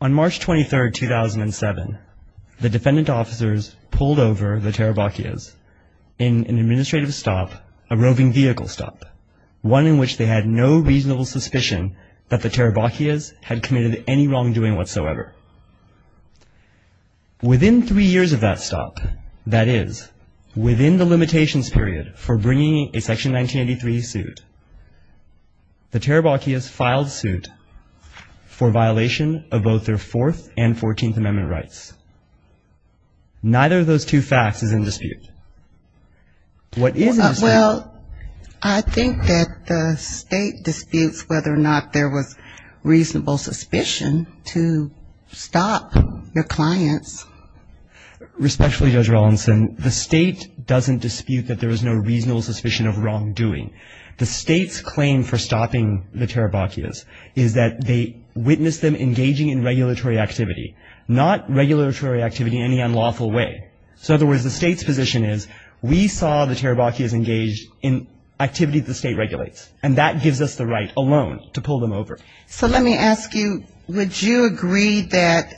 On March 23, 2007, the defendant officers pulled over the Tarabochias in an administrative stop, a roving vehicle stop, one in which they had no reasonable suspicion that the Tarabochias had committed any wrongdoing whatsoever. Within three years of that stop, that is, within the limitations period for bringing a Section 1983 suit, the Tarabochias filed suit for violation of both their Fourth and Fourteenth Amendment rights. Neither of those two facts is in dispute. What is in dispute? Well, I think that the State disputes whether or not there was reasonable suspicion to stop the clients. Respectfully, Judge Rawlinson, the State doesn't dispute that there was no reasonable suspicion of wrongdoing. The State's claim for stopping the Tarabochias is that they witnessed them engaging in regulatory activity, not regulatory activity in any unlawful way. So in other words, the State's position is we saw the Tarabochias engaged in activity the State regulates, and that gives us the right alone to pull them over. So let me ask you, would you agree that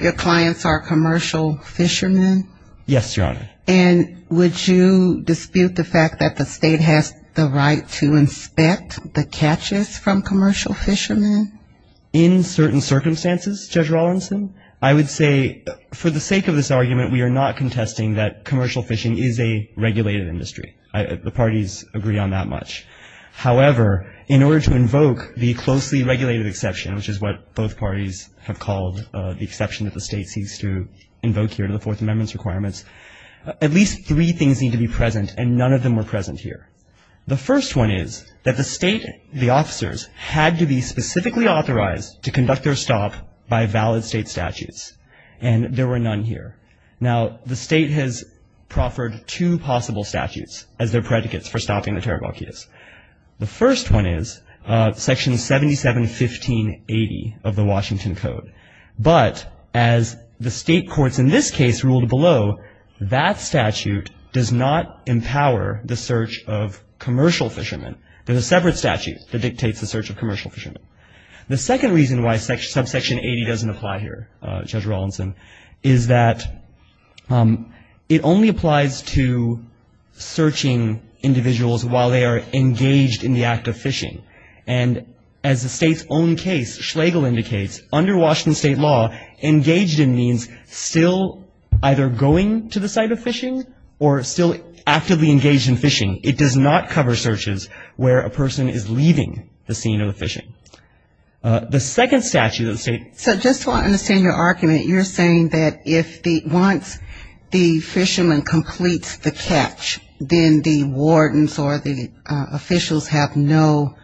your clients are commercial fishermen? Yes, Your Honor. And would you dispute the fact that the State has the right to inspect the catches from commercial fishermen? In certain circumstances, Judge Rawlinson, I would say for the sake of this argument, we are not contesting that commercial fishing is a regulated industry. The parties agree on that much. However, in order to invoke the closely regulated exception, which is what both parties have called the exception that the State seeks to invoke here in the Fourth Amendment's requirements, at least three things need to be present, and none of them were present here. The first one is that the State, the officers, had to be specifically authorized to conduct their stop by valid State statutes. And there were none here. Now, the State has proffered two possible statutes as their predicates for stopping the Tarabochias. The first one is Section 771580 of the Washington Code. But as the State courts in this case ruled below, that statute does not empower the search of commercial fishermen. There's a separate statute that dictates the search of commercial fishermen. The second reason why Subsection 80 doesn't apply here, Judge Rawlinson, is that it only applies to searching individuals while they are engaged in the act of fishing. And as the State's own case, Schlegel indicates, under Washington State law, engaged in means still either going to the site of fishing or still actively engaged in fishing. It does not cover searches where a person is leaving the scene of the fishing. The second statute that the State. So just so I understand your argument, you're saying that once the fisherman completes the catch, then the wardens or the officials have no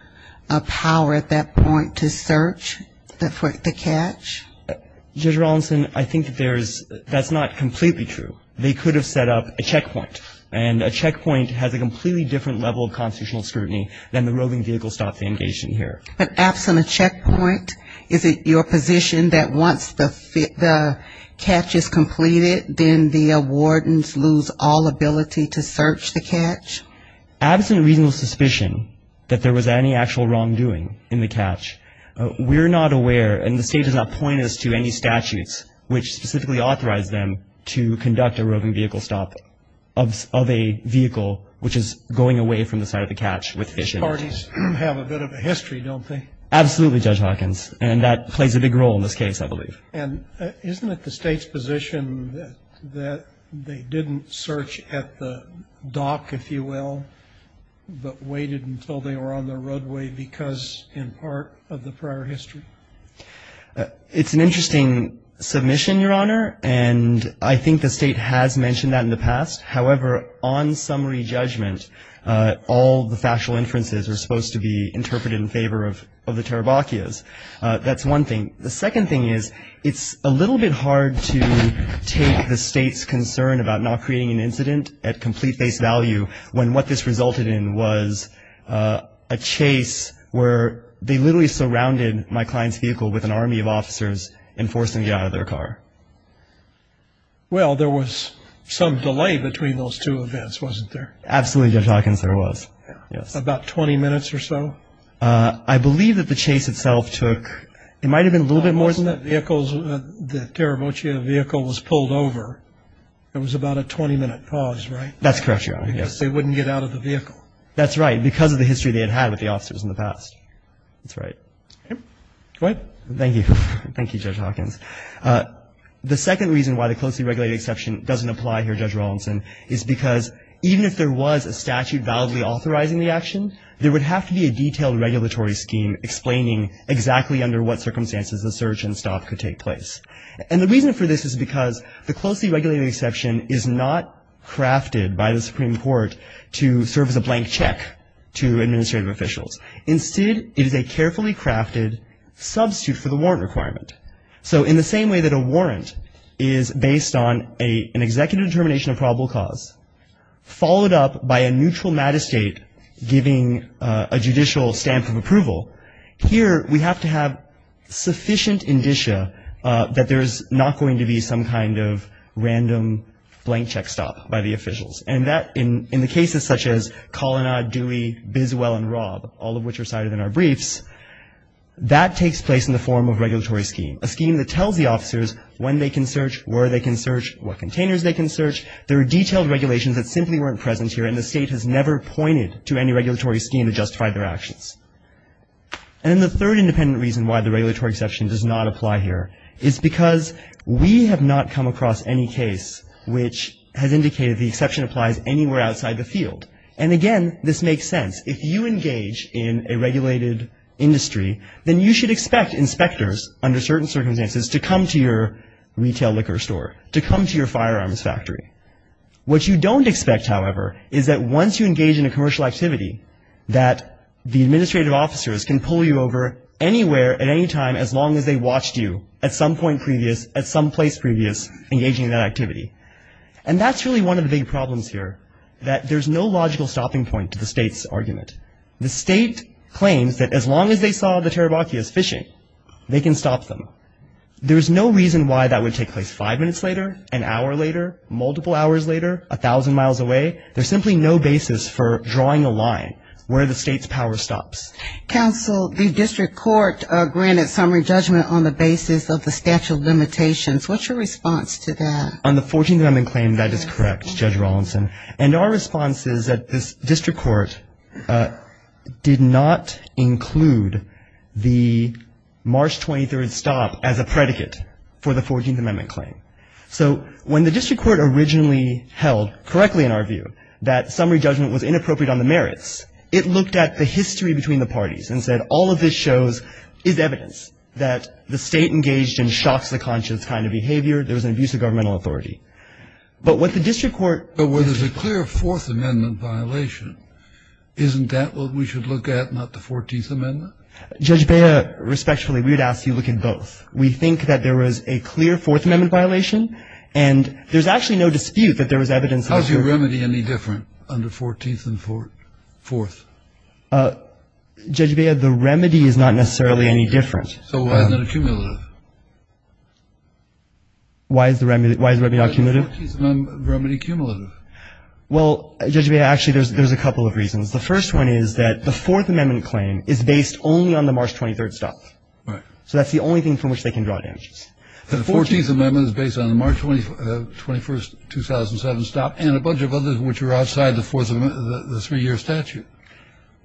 power at that point to search for the catch? Judge Rawlinson, I think that there's, that's not completely true. They could have set up a checkpoint. And a checkpoint has a completely different level of constitutional scrutiny than the roving vehicle stop they engage in here. But absent a checkpoint, is it your position that once the catch is completed, then the wardens lose all ability to search the catch? Absent reasonable suspicion that there was any actual wrongdoing in the catch, we're not aware and the State has not pointed us to any statutes which specifically authorize them to conduct a roving vehicle stop of a vehicle which is going away from the site of the catch with fish in it. These parties have a bit of a history, don't they? Absolutely, Judge Hawkins. And that plays a big role in this case, I believe. And isn't it the State's position that they didn't search at the dock, if you will, but waited until they were on the roadway because in part of the prior history? It's an interesting submission, Your Honor, and I think the State has mentioned that in the past. However, on summary judgment, all the factual inferences are supposed to be interpreted in favor of the Tarabachias. That's one thing. The second thing is it's a little bit hard to take the State's concern about not creating an incident at complete face value when what this resulted in was a chase where they literally surrounded my client's vehicle with an army of officers and forced them to get out of their car. Well, there was some delay between those two events, wasn't there? Absolutely, Judge Hawkins, there was. About 20 minutes or so? I believe that the chase itself took, it might have been a little bit more than that. Wasn't it vehicles, the Tarabachia vehicle was pulled over. It was about a 20-minute pause, right? That's correct, Your Honor, yes. Because they wouldn't get out of the vehicle. That's right. Because of the history they had had with the officers in the past. That's right. Go ahead. Thank you. Thank you, Judge Hawkins. The second reason why the closely regulated exception doesn't apply here, Judge Rawlinson, is because even if there was a statute validly authorizing the action, there would have to be a detailed regulatory scheme explaining exactly under what circumstances the search and stop could take place. And the reason for this is because the closely regulated exception is not crafted by the Supreme Court to serve as a blank check to administrative officials. Instead, it is a carefully crafted substitute for the warrant requirement. So in the same way that a warrant is based on an executive determination of probable cause, followed up by a neutral mat-estate giving a judicial stamp of approval, here we have to have sufficient indicia that there is not going to be some kind of random blank check stop by the officials. And that, in the cases such as Colonna, Dewey, Biswell, and Rob, all of which are cited in our briefs, that takes place in the form of regulatory scheme. A scheme that tells the officers when they can search, where they can search, what containers they can search. There are detailed regulations that simply weren't present here, and the state has never pointed to any regulatory scheme to justify their actions. And then the third independent reason why the regulatory exception does not apply here is because we have not come across any case which has indicated the exception applies anywhere outside the field. And again, this makes sense. If you engage in a regulated industry, then you should expect inspectors under certain circumstances to come to your retail liquor store, to come to your firearms factory. What you don't expect, however, is that once you engage in a commercial activity, that the administrative officers can pull you over anywhere at any time as long as they watched you at some point previous, at some place previous engaging in that activity. And that's really one of the big problems here, that there's no logical stopping point to the state's argument. The state claims that as long as they saw the Tarabakis fishing, they can stop them. There's no reason why that would take place five minutes later, an hour later, multiple hours later, a thousand miles away. There's simply no basis for drawing a line where the state's power stops. Counsel, the district court granted summary judgment on the basis of the statute of limitations. What's your response to that? On the 14th Amendment claim, that is correct, Judge Rawlinson. And our response is that this district court did not include the March 23rd stop as a predicate for the 14th Amendment claim. So when the district court originally held, correctly in our view, that summary judgment was inappropriate on the merits, it looked at the history between the parties and said, all of this shows is evidence that the state engaged in shocks-the-conscious kind of behavior. There was an abuse of governmental authority. But what the district court has to say about that. But where there's a clear Fourth Amendment violation, isn't that what we should look at, not the 14th Amendment? Judge Bea, respectfully, we would ask you to look at both. We think that there was a clear Fourth Amendment violation, and there's actually no dispute that there was evidence that there was. How is your remedy any different under 14th and Fourth? Judge Bea, the remedy is not necessarily any different. So why is it accumulative? Why is the remedy not accumulative? Why is the 14th Amendment remedy accumulative? Well, Judge Bea, actually, there's a couple of reasons. The first one is that the Fourth Amendment claim is based only on the March 23rd stop. Right. So that's the only thing from which they can draw damages. The 14th Amendment is based on the March 21st, 2007, stop and a bunch of others which are outside the Fourth Amendment, the three-year statute.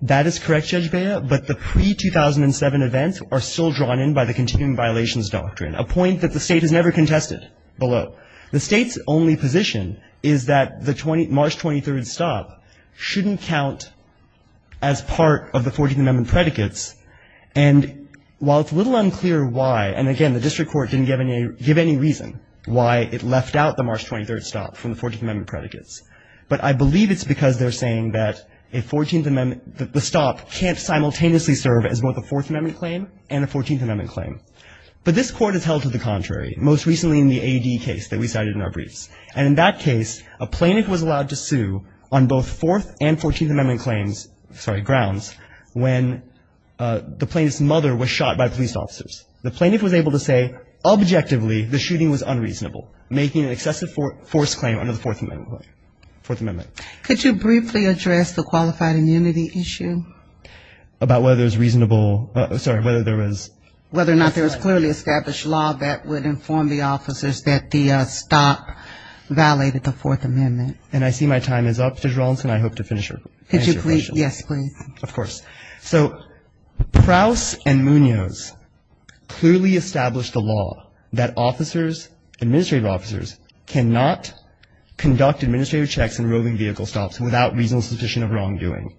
That is correct, Judge Bea. But the pre-2007 events are still drawn in by the continuing violations doctrine, a point that the State has never contested below. The State's only position is that the March 23rd stop shouldn't count as part of the 14th Amendment predicates. And while it's a little unclear why, and again, the district court didn't give any reason why it left out the March 23rd stop from the 14th Amendment predicates, but I believe it's because they're saying that a 14th Amendment, the stop can't simultaneously serve as both a Fourth Amendment claim and a 14th Amendment claim. But this Court has held to the contrary, most recently in the A.D. case that we cited in our briefs. And in that case, a plaintiff was allowed to sue on both Fourth and 14th Amendment claims, grounds, when the plaintiff's mother was shot by police officers. The plaintiff was able to say objectively the shooting was unreasonable, making an excessive force claim under the Fourth Amendment. Could you briefly address the qualified immunity issue? About whether it was reasonable, sorry, whether there was. Whether or not there was clearly established law that would inform the officers that the stop violated the Fourth Amendment. And I see my time is up, Judge Rawlinson. I hope to finish your question. Could you please, yes, please. Of course. So Prowse and Munoz clearly established the law that officers, administrative officers, cannot conduct administrative checks in roving vehicle stops without reasonable suspicion of wrongdoing.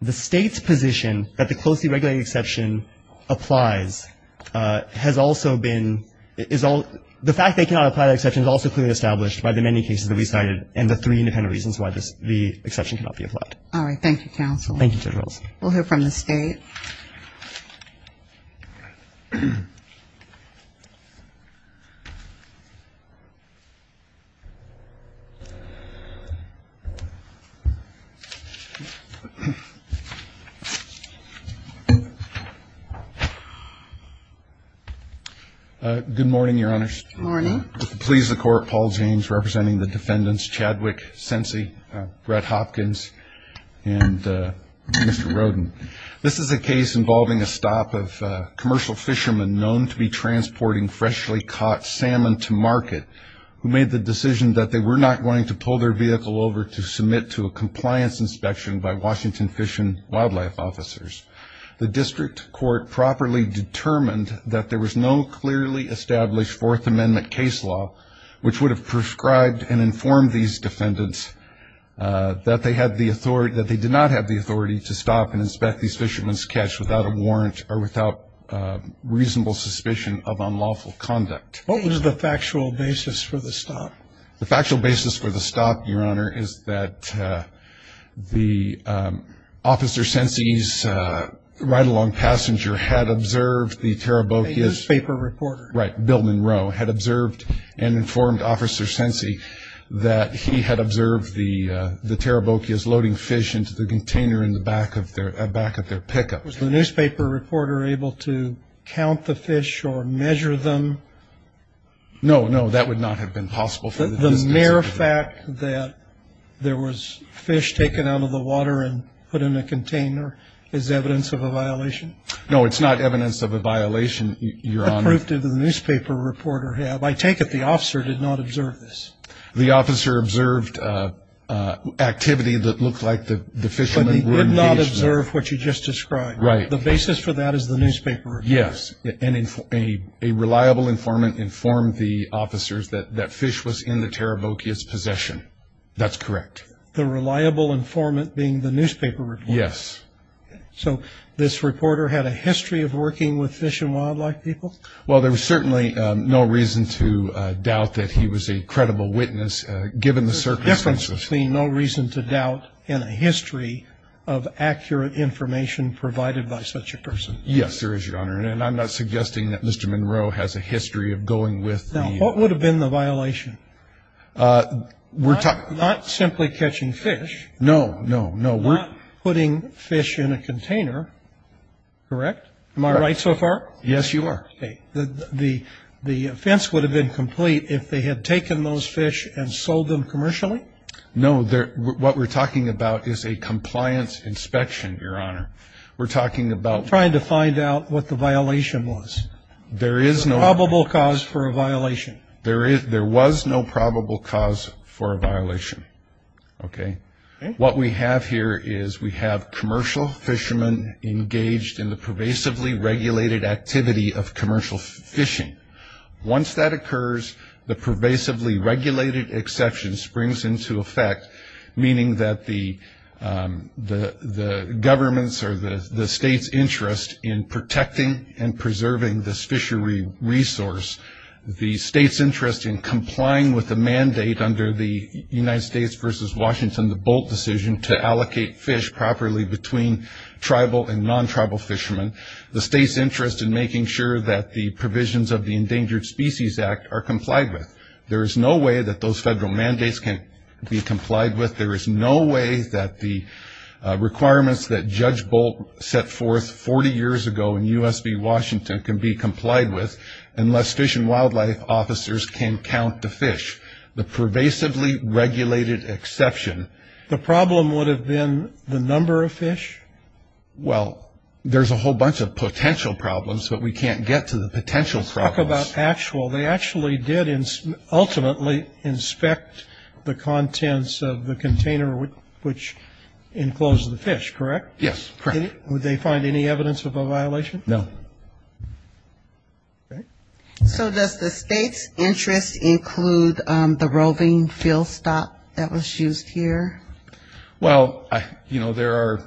The State's position that the closely regulated exception applies has also been, the fact they cannot apply the exception is also clearly established by the many cases that we cited and the three independent reasons why the exception cannot be applied. All right. Thank you, Counsel. Thank you, Judge Rawlinson. We'll hear from the State. Good morning, Your Honors. Good morning. Please, the Court, Paul James representing the defendants, Chadwick Sensi, Brett Hopkins, and Mr. Roden. This is a case involving a stop of commercial fishermen known to be transporting freshly caught salmon to market who made the decision that they were not going to pull their vehicle over to submit to a compliance inspection by Washington Fish and Wildlife officers. The district court properly determined that there was no clearly established Fourth Amendment case law which would have prescribed and informed these defendants that they had the authority, that they did not have the authority to stop and inspect these fishermen's catch without a warrant or without reasonable suspicion of unlawful conduct. What was the factual basis for the stop? The factual basis for the stop, Your Honor, is that Officer Sensi's ride-along passenger had observed the Tarabokias. A newspaper reporter. Right. Bill Monroe had observed and informed Officer Sensi that he had observed the Tarabokias loading fish into the container in the back of their pickup. Was the newspaper reporter able to count the fish or measure them? No, no, that would not have been possible. The mere fact that there was fish taken out of the water and put in a container is evidence of a violation? No, it's not evidence of a violation, Your Honor. What proof did the newspaper reporter have? I take it the officer did not observe this. The officer observed activity that looked like the fishermen were engaged in. But he did not observe what you just described. Right. The basis for that is the newspaper report. Yes, and a reliable informant informed the officers that fish was in the Tarabokias' possession. That's correct. The reliable informant being the newspaper reporter? Yes. So this reporter had a history of working with fish and wildlife people? Well, there was certainly no reason to doubt that he was a credible witness, given the circumstances. There's a difference between no reason to doubt and a history of accurate information provided by such a person. Yes, there is, Your Honor. And I'm not suggesting that Mr. Monroe has a history of going with the- Now, what would have been the violation? We're talking- Not simply catching fish. No, no, no. Not putting fish in a container, correct? Am I right so far? Yes, you are. Okay. The offense would have been complete if they had taken those fish and sold them commercially? No, what we're talking about is a compliance inspection, Your Honor. We're talking about- Trying to find out what the violation was. There is no- A probable cause for a violation. There was no probable cause for a violation, okay? What we have here is we have commercial fishermen engaged in the pervasively regulated activity of commercial fishing. Once that occurs, the pervasively regulated exception springs into effect, meaning that the government's or the state's interest in protecting and preserving this fishery resource, the state's interest in complying with the mandate under the United States versus Washington, the Bolt decision to allocate fish properly between tribal and non-tribal fishermen, the state's interest in making sure that the provisions of the Endangered Species Act are complied with. There is no way that those federal mandates can be complied with. There is no way that the requirements that Judge Bolt set forth 40 years ago in U.S. v. Washington can be complied with unless fish and wildlife officers can count the fish, the pervasively regulated exception. The problem would have been the number of fish? Well, there's a whole bunch of potential problems, but we can't get to the potential problems. They actually did ultimately inspect the contents of the container which enclosed the fish, correct? Yes, correct. Would they find any evidence of a violation? No. Okay. So does the state's interest include the roving field stop that was used here? Well, you know, there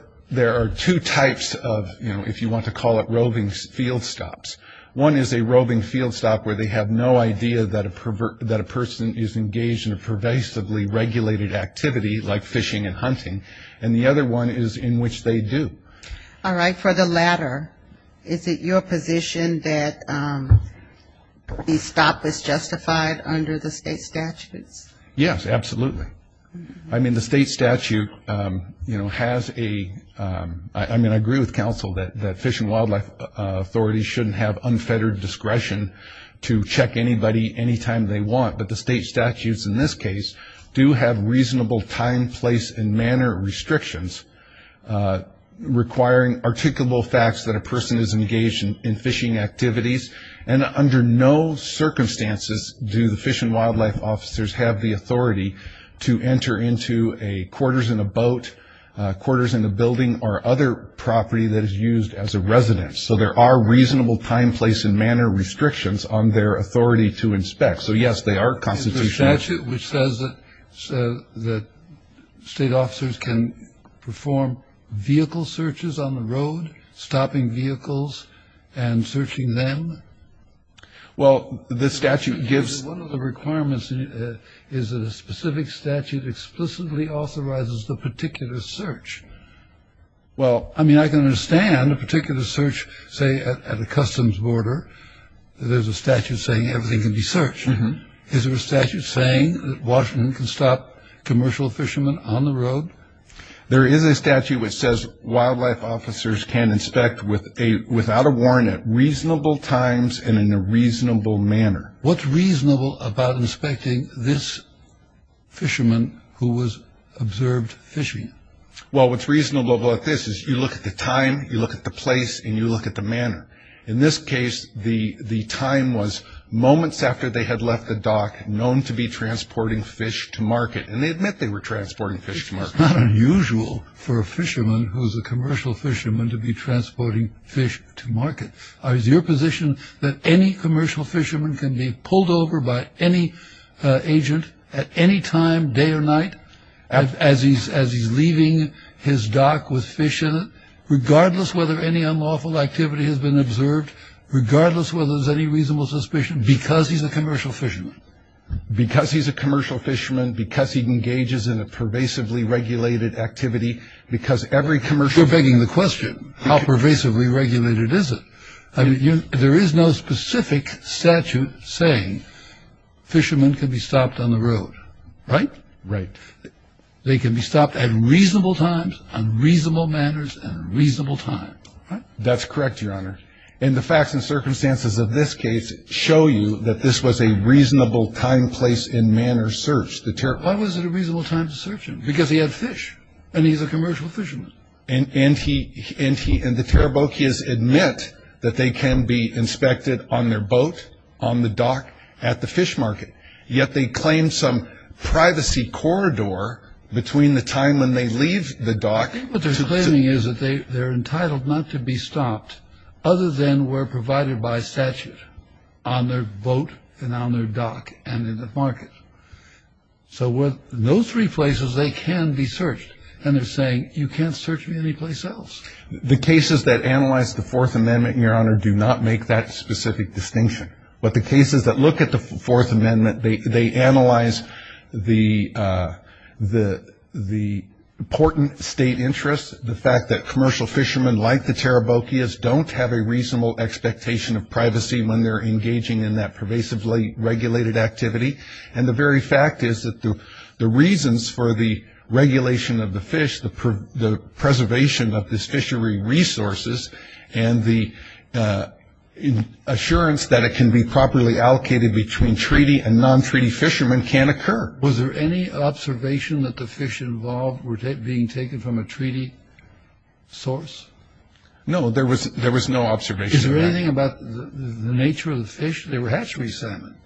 are two types of, you know, if you want to call it roving field stops. One is a roving field stop where they have no idea that a person is engaged in a pervasively regulated activity, like fishing and hunting, and the other one is in which they do. All right. For the latter, is it your position that the stop is justified under the state statutes? Yes, absolutely. I mean, the state statute, you know, has a, I mean, I agree with counsel that fish and wildlife authorities shouldn't have unfettered discretion to check anybody anytime they want, but the state statutes in this case do have reasonable time, place, and manner restrictions requiring articulable facts that a person is engaged in fishing activities, and under no circumstances do the fish and wildlife officers have the authority to enter into a quarters in a boat, quarters in a building, or other property that is used as a residence. So there are reasonable time, place, and manner restrictions on their authority to inspect. So, yes, they are constitutional. Is the statute which says that state officers can perform vehicle searches on the road, stopping vehicles and searching them? Well, the statute gives... One of the requirements is that a specific statute explicitly authorizes the particular search. Well... I mean, I can understand a particular search, say, at a customs border. There's a statute saying everything can be searched. Is there a statute saying that Washington can stop commercial fishermen on the road? There is a statute which says wildlife officers can inspect without a warrant at reasonable times and in a reasonable manner. What's reasonable about inspecting this fisherman who was observed fishing? Well, what's reasonable about this is you look at the time, you look at the place, and you look at the manner. In this case, the time was moments after they had left the dock, known to be transporting fish to market, and they admit they were transporting fish to market. It's not unusual for a fisherman who's a commercial fisherman to be transporting fish to market. Is your position that any commercial fisherman can be pulled over by any agent at any time, day or night, as he's leaving his dock with fish in it, regardless whether any unlawful activity has been observed, regardless whether there's any reasonable suspicion, because he's a commercial fisherman? Because he's a commercial fisherman, because he engages in a pervasively regulated activity, because every commercial fisherman... You're begging the question. How pervasively regulated is it? There is no specific statute saying fishermen can be stopped on the road, right? Right. They can be stopped at reasonable times, unreasonable manners, and reasonable time, right? That's correct, Your Honor. And the facts and circumstances of this case show you that this was a reasonable time, place, and manner search. Why was it a reasonable time to search him? Because he had fish, and he's a commercial fisherman. And the Tarabokias admit that they can be inspected on their boat, on the dock, at the fish market, yet they claim some privacy corridor between the time when they leave the dock... other than were provided by statute on their boat and on their dock and in the market. So with those three places, they can be searched. And they're saying, you can't search me anyplace else. The cases that analyze the Fourth Amendment, Your Honor, do not make that specific distinction. But the cases that look at the Fourth Amendment, they analyze the important state interests, the fact that commercial fishermen like the Tarabokias don't have a reasonable expectation of privacy when they're engaging in that pervasively regulated activity. And the very fact is that the reasons for the regulation of the fish, the preservation of this fishery resources, and the assurance that it can be properly allocated between treaty and non-treaty fishermen can occur. Was there any observation that the fish involved were being taken from a treaty source? No, there was no observation of that. Is there anything about the nature of the fish? They were hatchery salmon.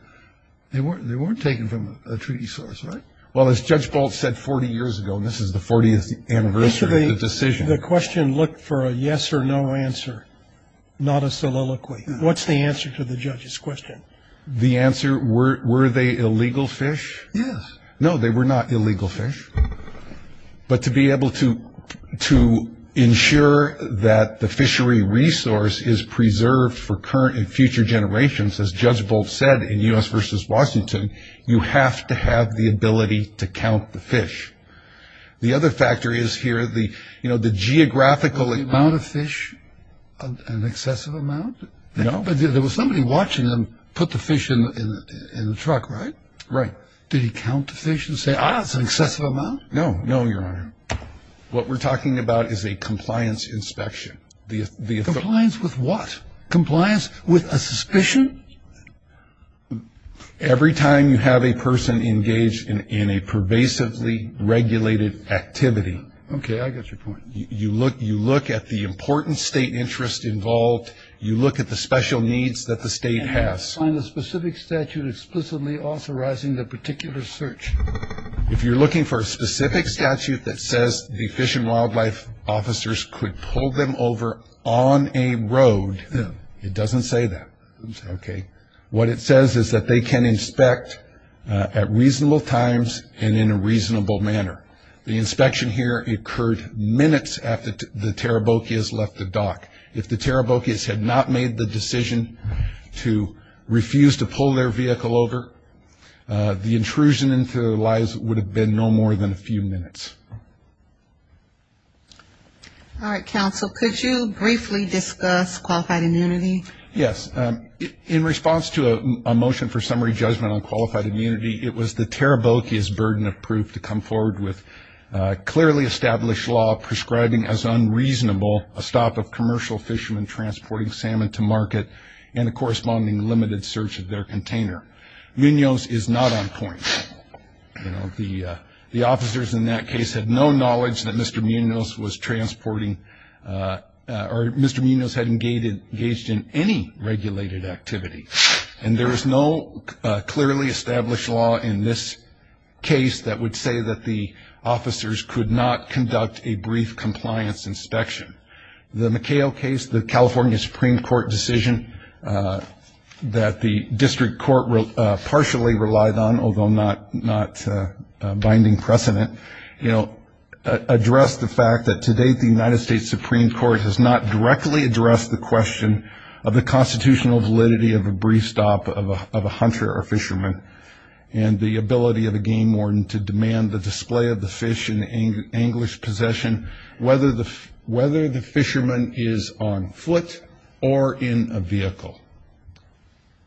They weren't taken from a treaty source, right? Well, as Judge Bolt said 40 years ago, and this is the 40th anniversary of the decision... The question looked for a yes or no answer, not a soliloquy. What's the answer to the judge's question? The answer, were they illegal fish? Yes. No, they were not illegal fish. But to be able to ensure that the fishery resource is preserved for current and future generations, as Judge Bolt said in U.S. v. Washington, you have to have the ability to count the fish. The other factor is here, you know, the geographical... Was the amount of fish an excessive amount? No. But there was somebody watching them put the fish in the truck, right? Right. Did he count the fish and say, ah, it's an excessive amount? No, no, Your Honor. What we're talking about is a compliance inspection. Compliance with what? Compliance with a suspicion? Every time you have a person engaged in a pervasively regulated activity... Okay, I got your point. You look at the important state interest involved. You look at the special needs that the state has. You have to sign a specific statute explicitly authorizing the particular search. If you're looking for a specific statute that says the Fish and Wildlife Officers could pull them over on a road, it doesn't say that. Okay. What it says is that they can inspect at reasonable times and in a reasonable manner. The inspection here occurred minutes after the Tarabokias left the dock. If the Tarabokias had not made the decision to refuse to pull their vehicle over, the intrusion into their lives would have been no more than a few minutes. All right, counsel. Could you briefly discuss qualified immunity? Yes. In response to a motion for summary judgment on qualified immunity, it was the Tarabokias' burden of proof to come forward with clearly established law prescribing as unreasonable a stop of commercial fishermen transporting salmon to market and a corresponding limited search of their container. Munoz is not on point. The officers in that case had no knowledge that Mr. Munoz was transporting or Mr. Munoz had engaged in any regulated activity. And there is no clearly established law in this case that would say that the officers could not conduct a brief compliance inspection. The McHale case, the California Supreme Court decision that the district court partially relied on, although not binding precedent, addressed the fact that to date the United States Supreme Court has not directly addressed the question of the constitutional validity of a brief stop of a hunter or fisherman and the ability of a game warden to demand the display of the fish in English possession, whether the fisherman is on foot or in a vehicle.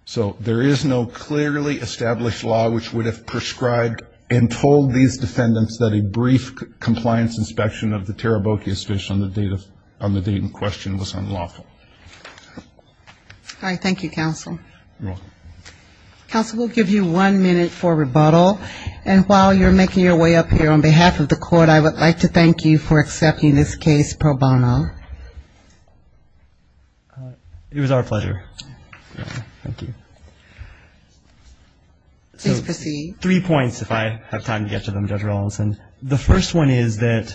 So there is no clearly established law which would have prescribed and told these defendants that a brief compliance inspection of the Tarabokias' fish on the date in question was unlawful. All right. Thank you, counsel. You're welcome. Counsel, we'll give you one minute for rebuttal. And while you're making your way up here, on behalf of the court, I would like to thank you for accepting this case pro bono. It was our pleasure. Thank you. Please proceed. Three points, if I have time to get to them, Judge Rallison. The first one is that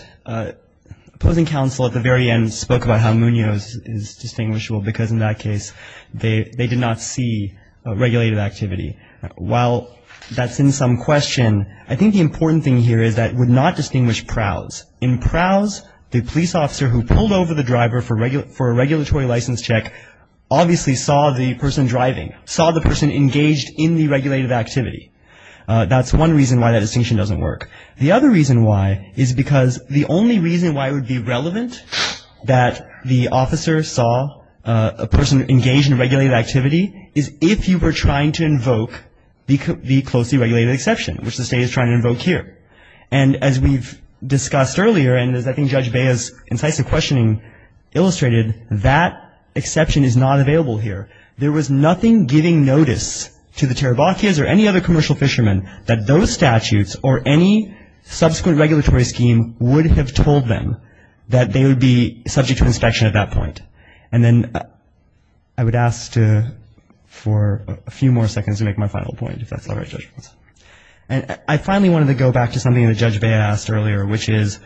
opposing counsel at the very end spoke about how Munoz is distinguishable because in that case they did not see regulated activity. While that's in some question, I think the important thing here is that it would not distinguish prowse. In prowse, the police officer who pulled over the driver for a regulatory license check obviously saw the person driving, saw the person engaged in the regulated activity. That's one reason why that distinction doesn't work. The other reason why is because the only reason why it would be relevant that the officer saw a person engaged in regulated activity is if you were trying to invoke the closely regulated exception, which the State is trying to invoke here. And as we've discussed earlier, and as I think Judge Bea's incisive questioning illustrated, that exception is not available here. There was nothing giving notice to the Tarabachias or any other commercial fishermen that those statutes or any subsequent regulatory scheme would have told them that they would be subject to inspection at that point. And then I would ask for a few more seconds to make my final point, if that's all right, Judge Rallison. And I finally wanted to go back to something that Judge Bea asked earlier, which is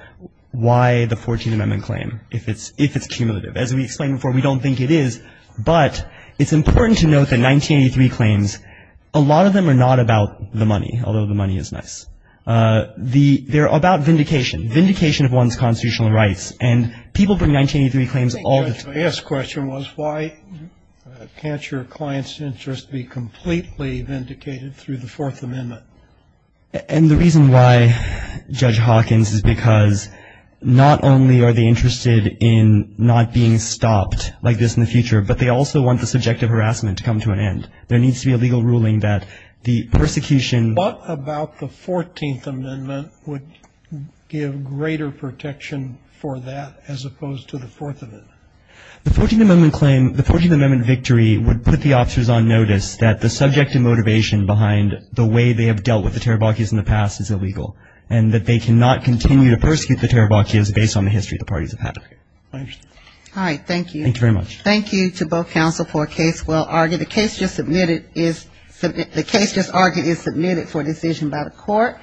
why the 14th Amendment claim, if it's cumulative. As we explained before, we don't think it is. But it's important to note that 1983 claims, a lot of them are not about the money, although the money is nice. They're about vindication, vindication of one's constitutional rights. And people bring 1983 claims all the time. The last question was why can't your client's interest be completely vindicated through the Fourth Amendment? And the reason why, Judge Hawkins, is because not only are they interested in not being stopped like this in the future, but they also want the subjective harassment to come to an end. There needs to be a legal ruling that the persecution. What about the 14th Amendment would give greater protection for that as opposed to the Fourth Amendment? The 14th Amendment claim, the 14th Amendment victory would put the officers on notice that the subjective motivation behind the way they have dealt with the Tarabachias in the past is illegal and that they cannot continue to persecute the Tarabachias based on the history the parties have had. All right. Thank you. Thank you very much. Thank you to both counsel for a case well argued. The case just submitted is the case just argued is submitted for decision by the court.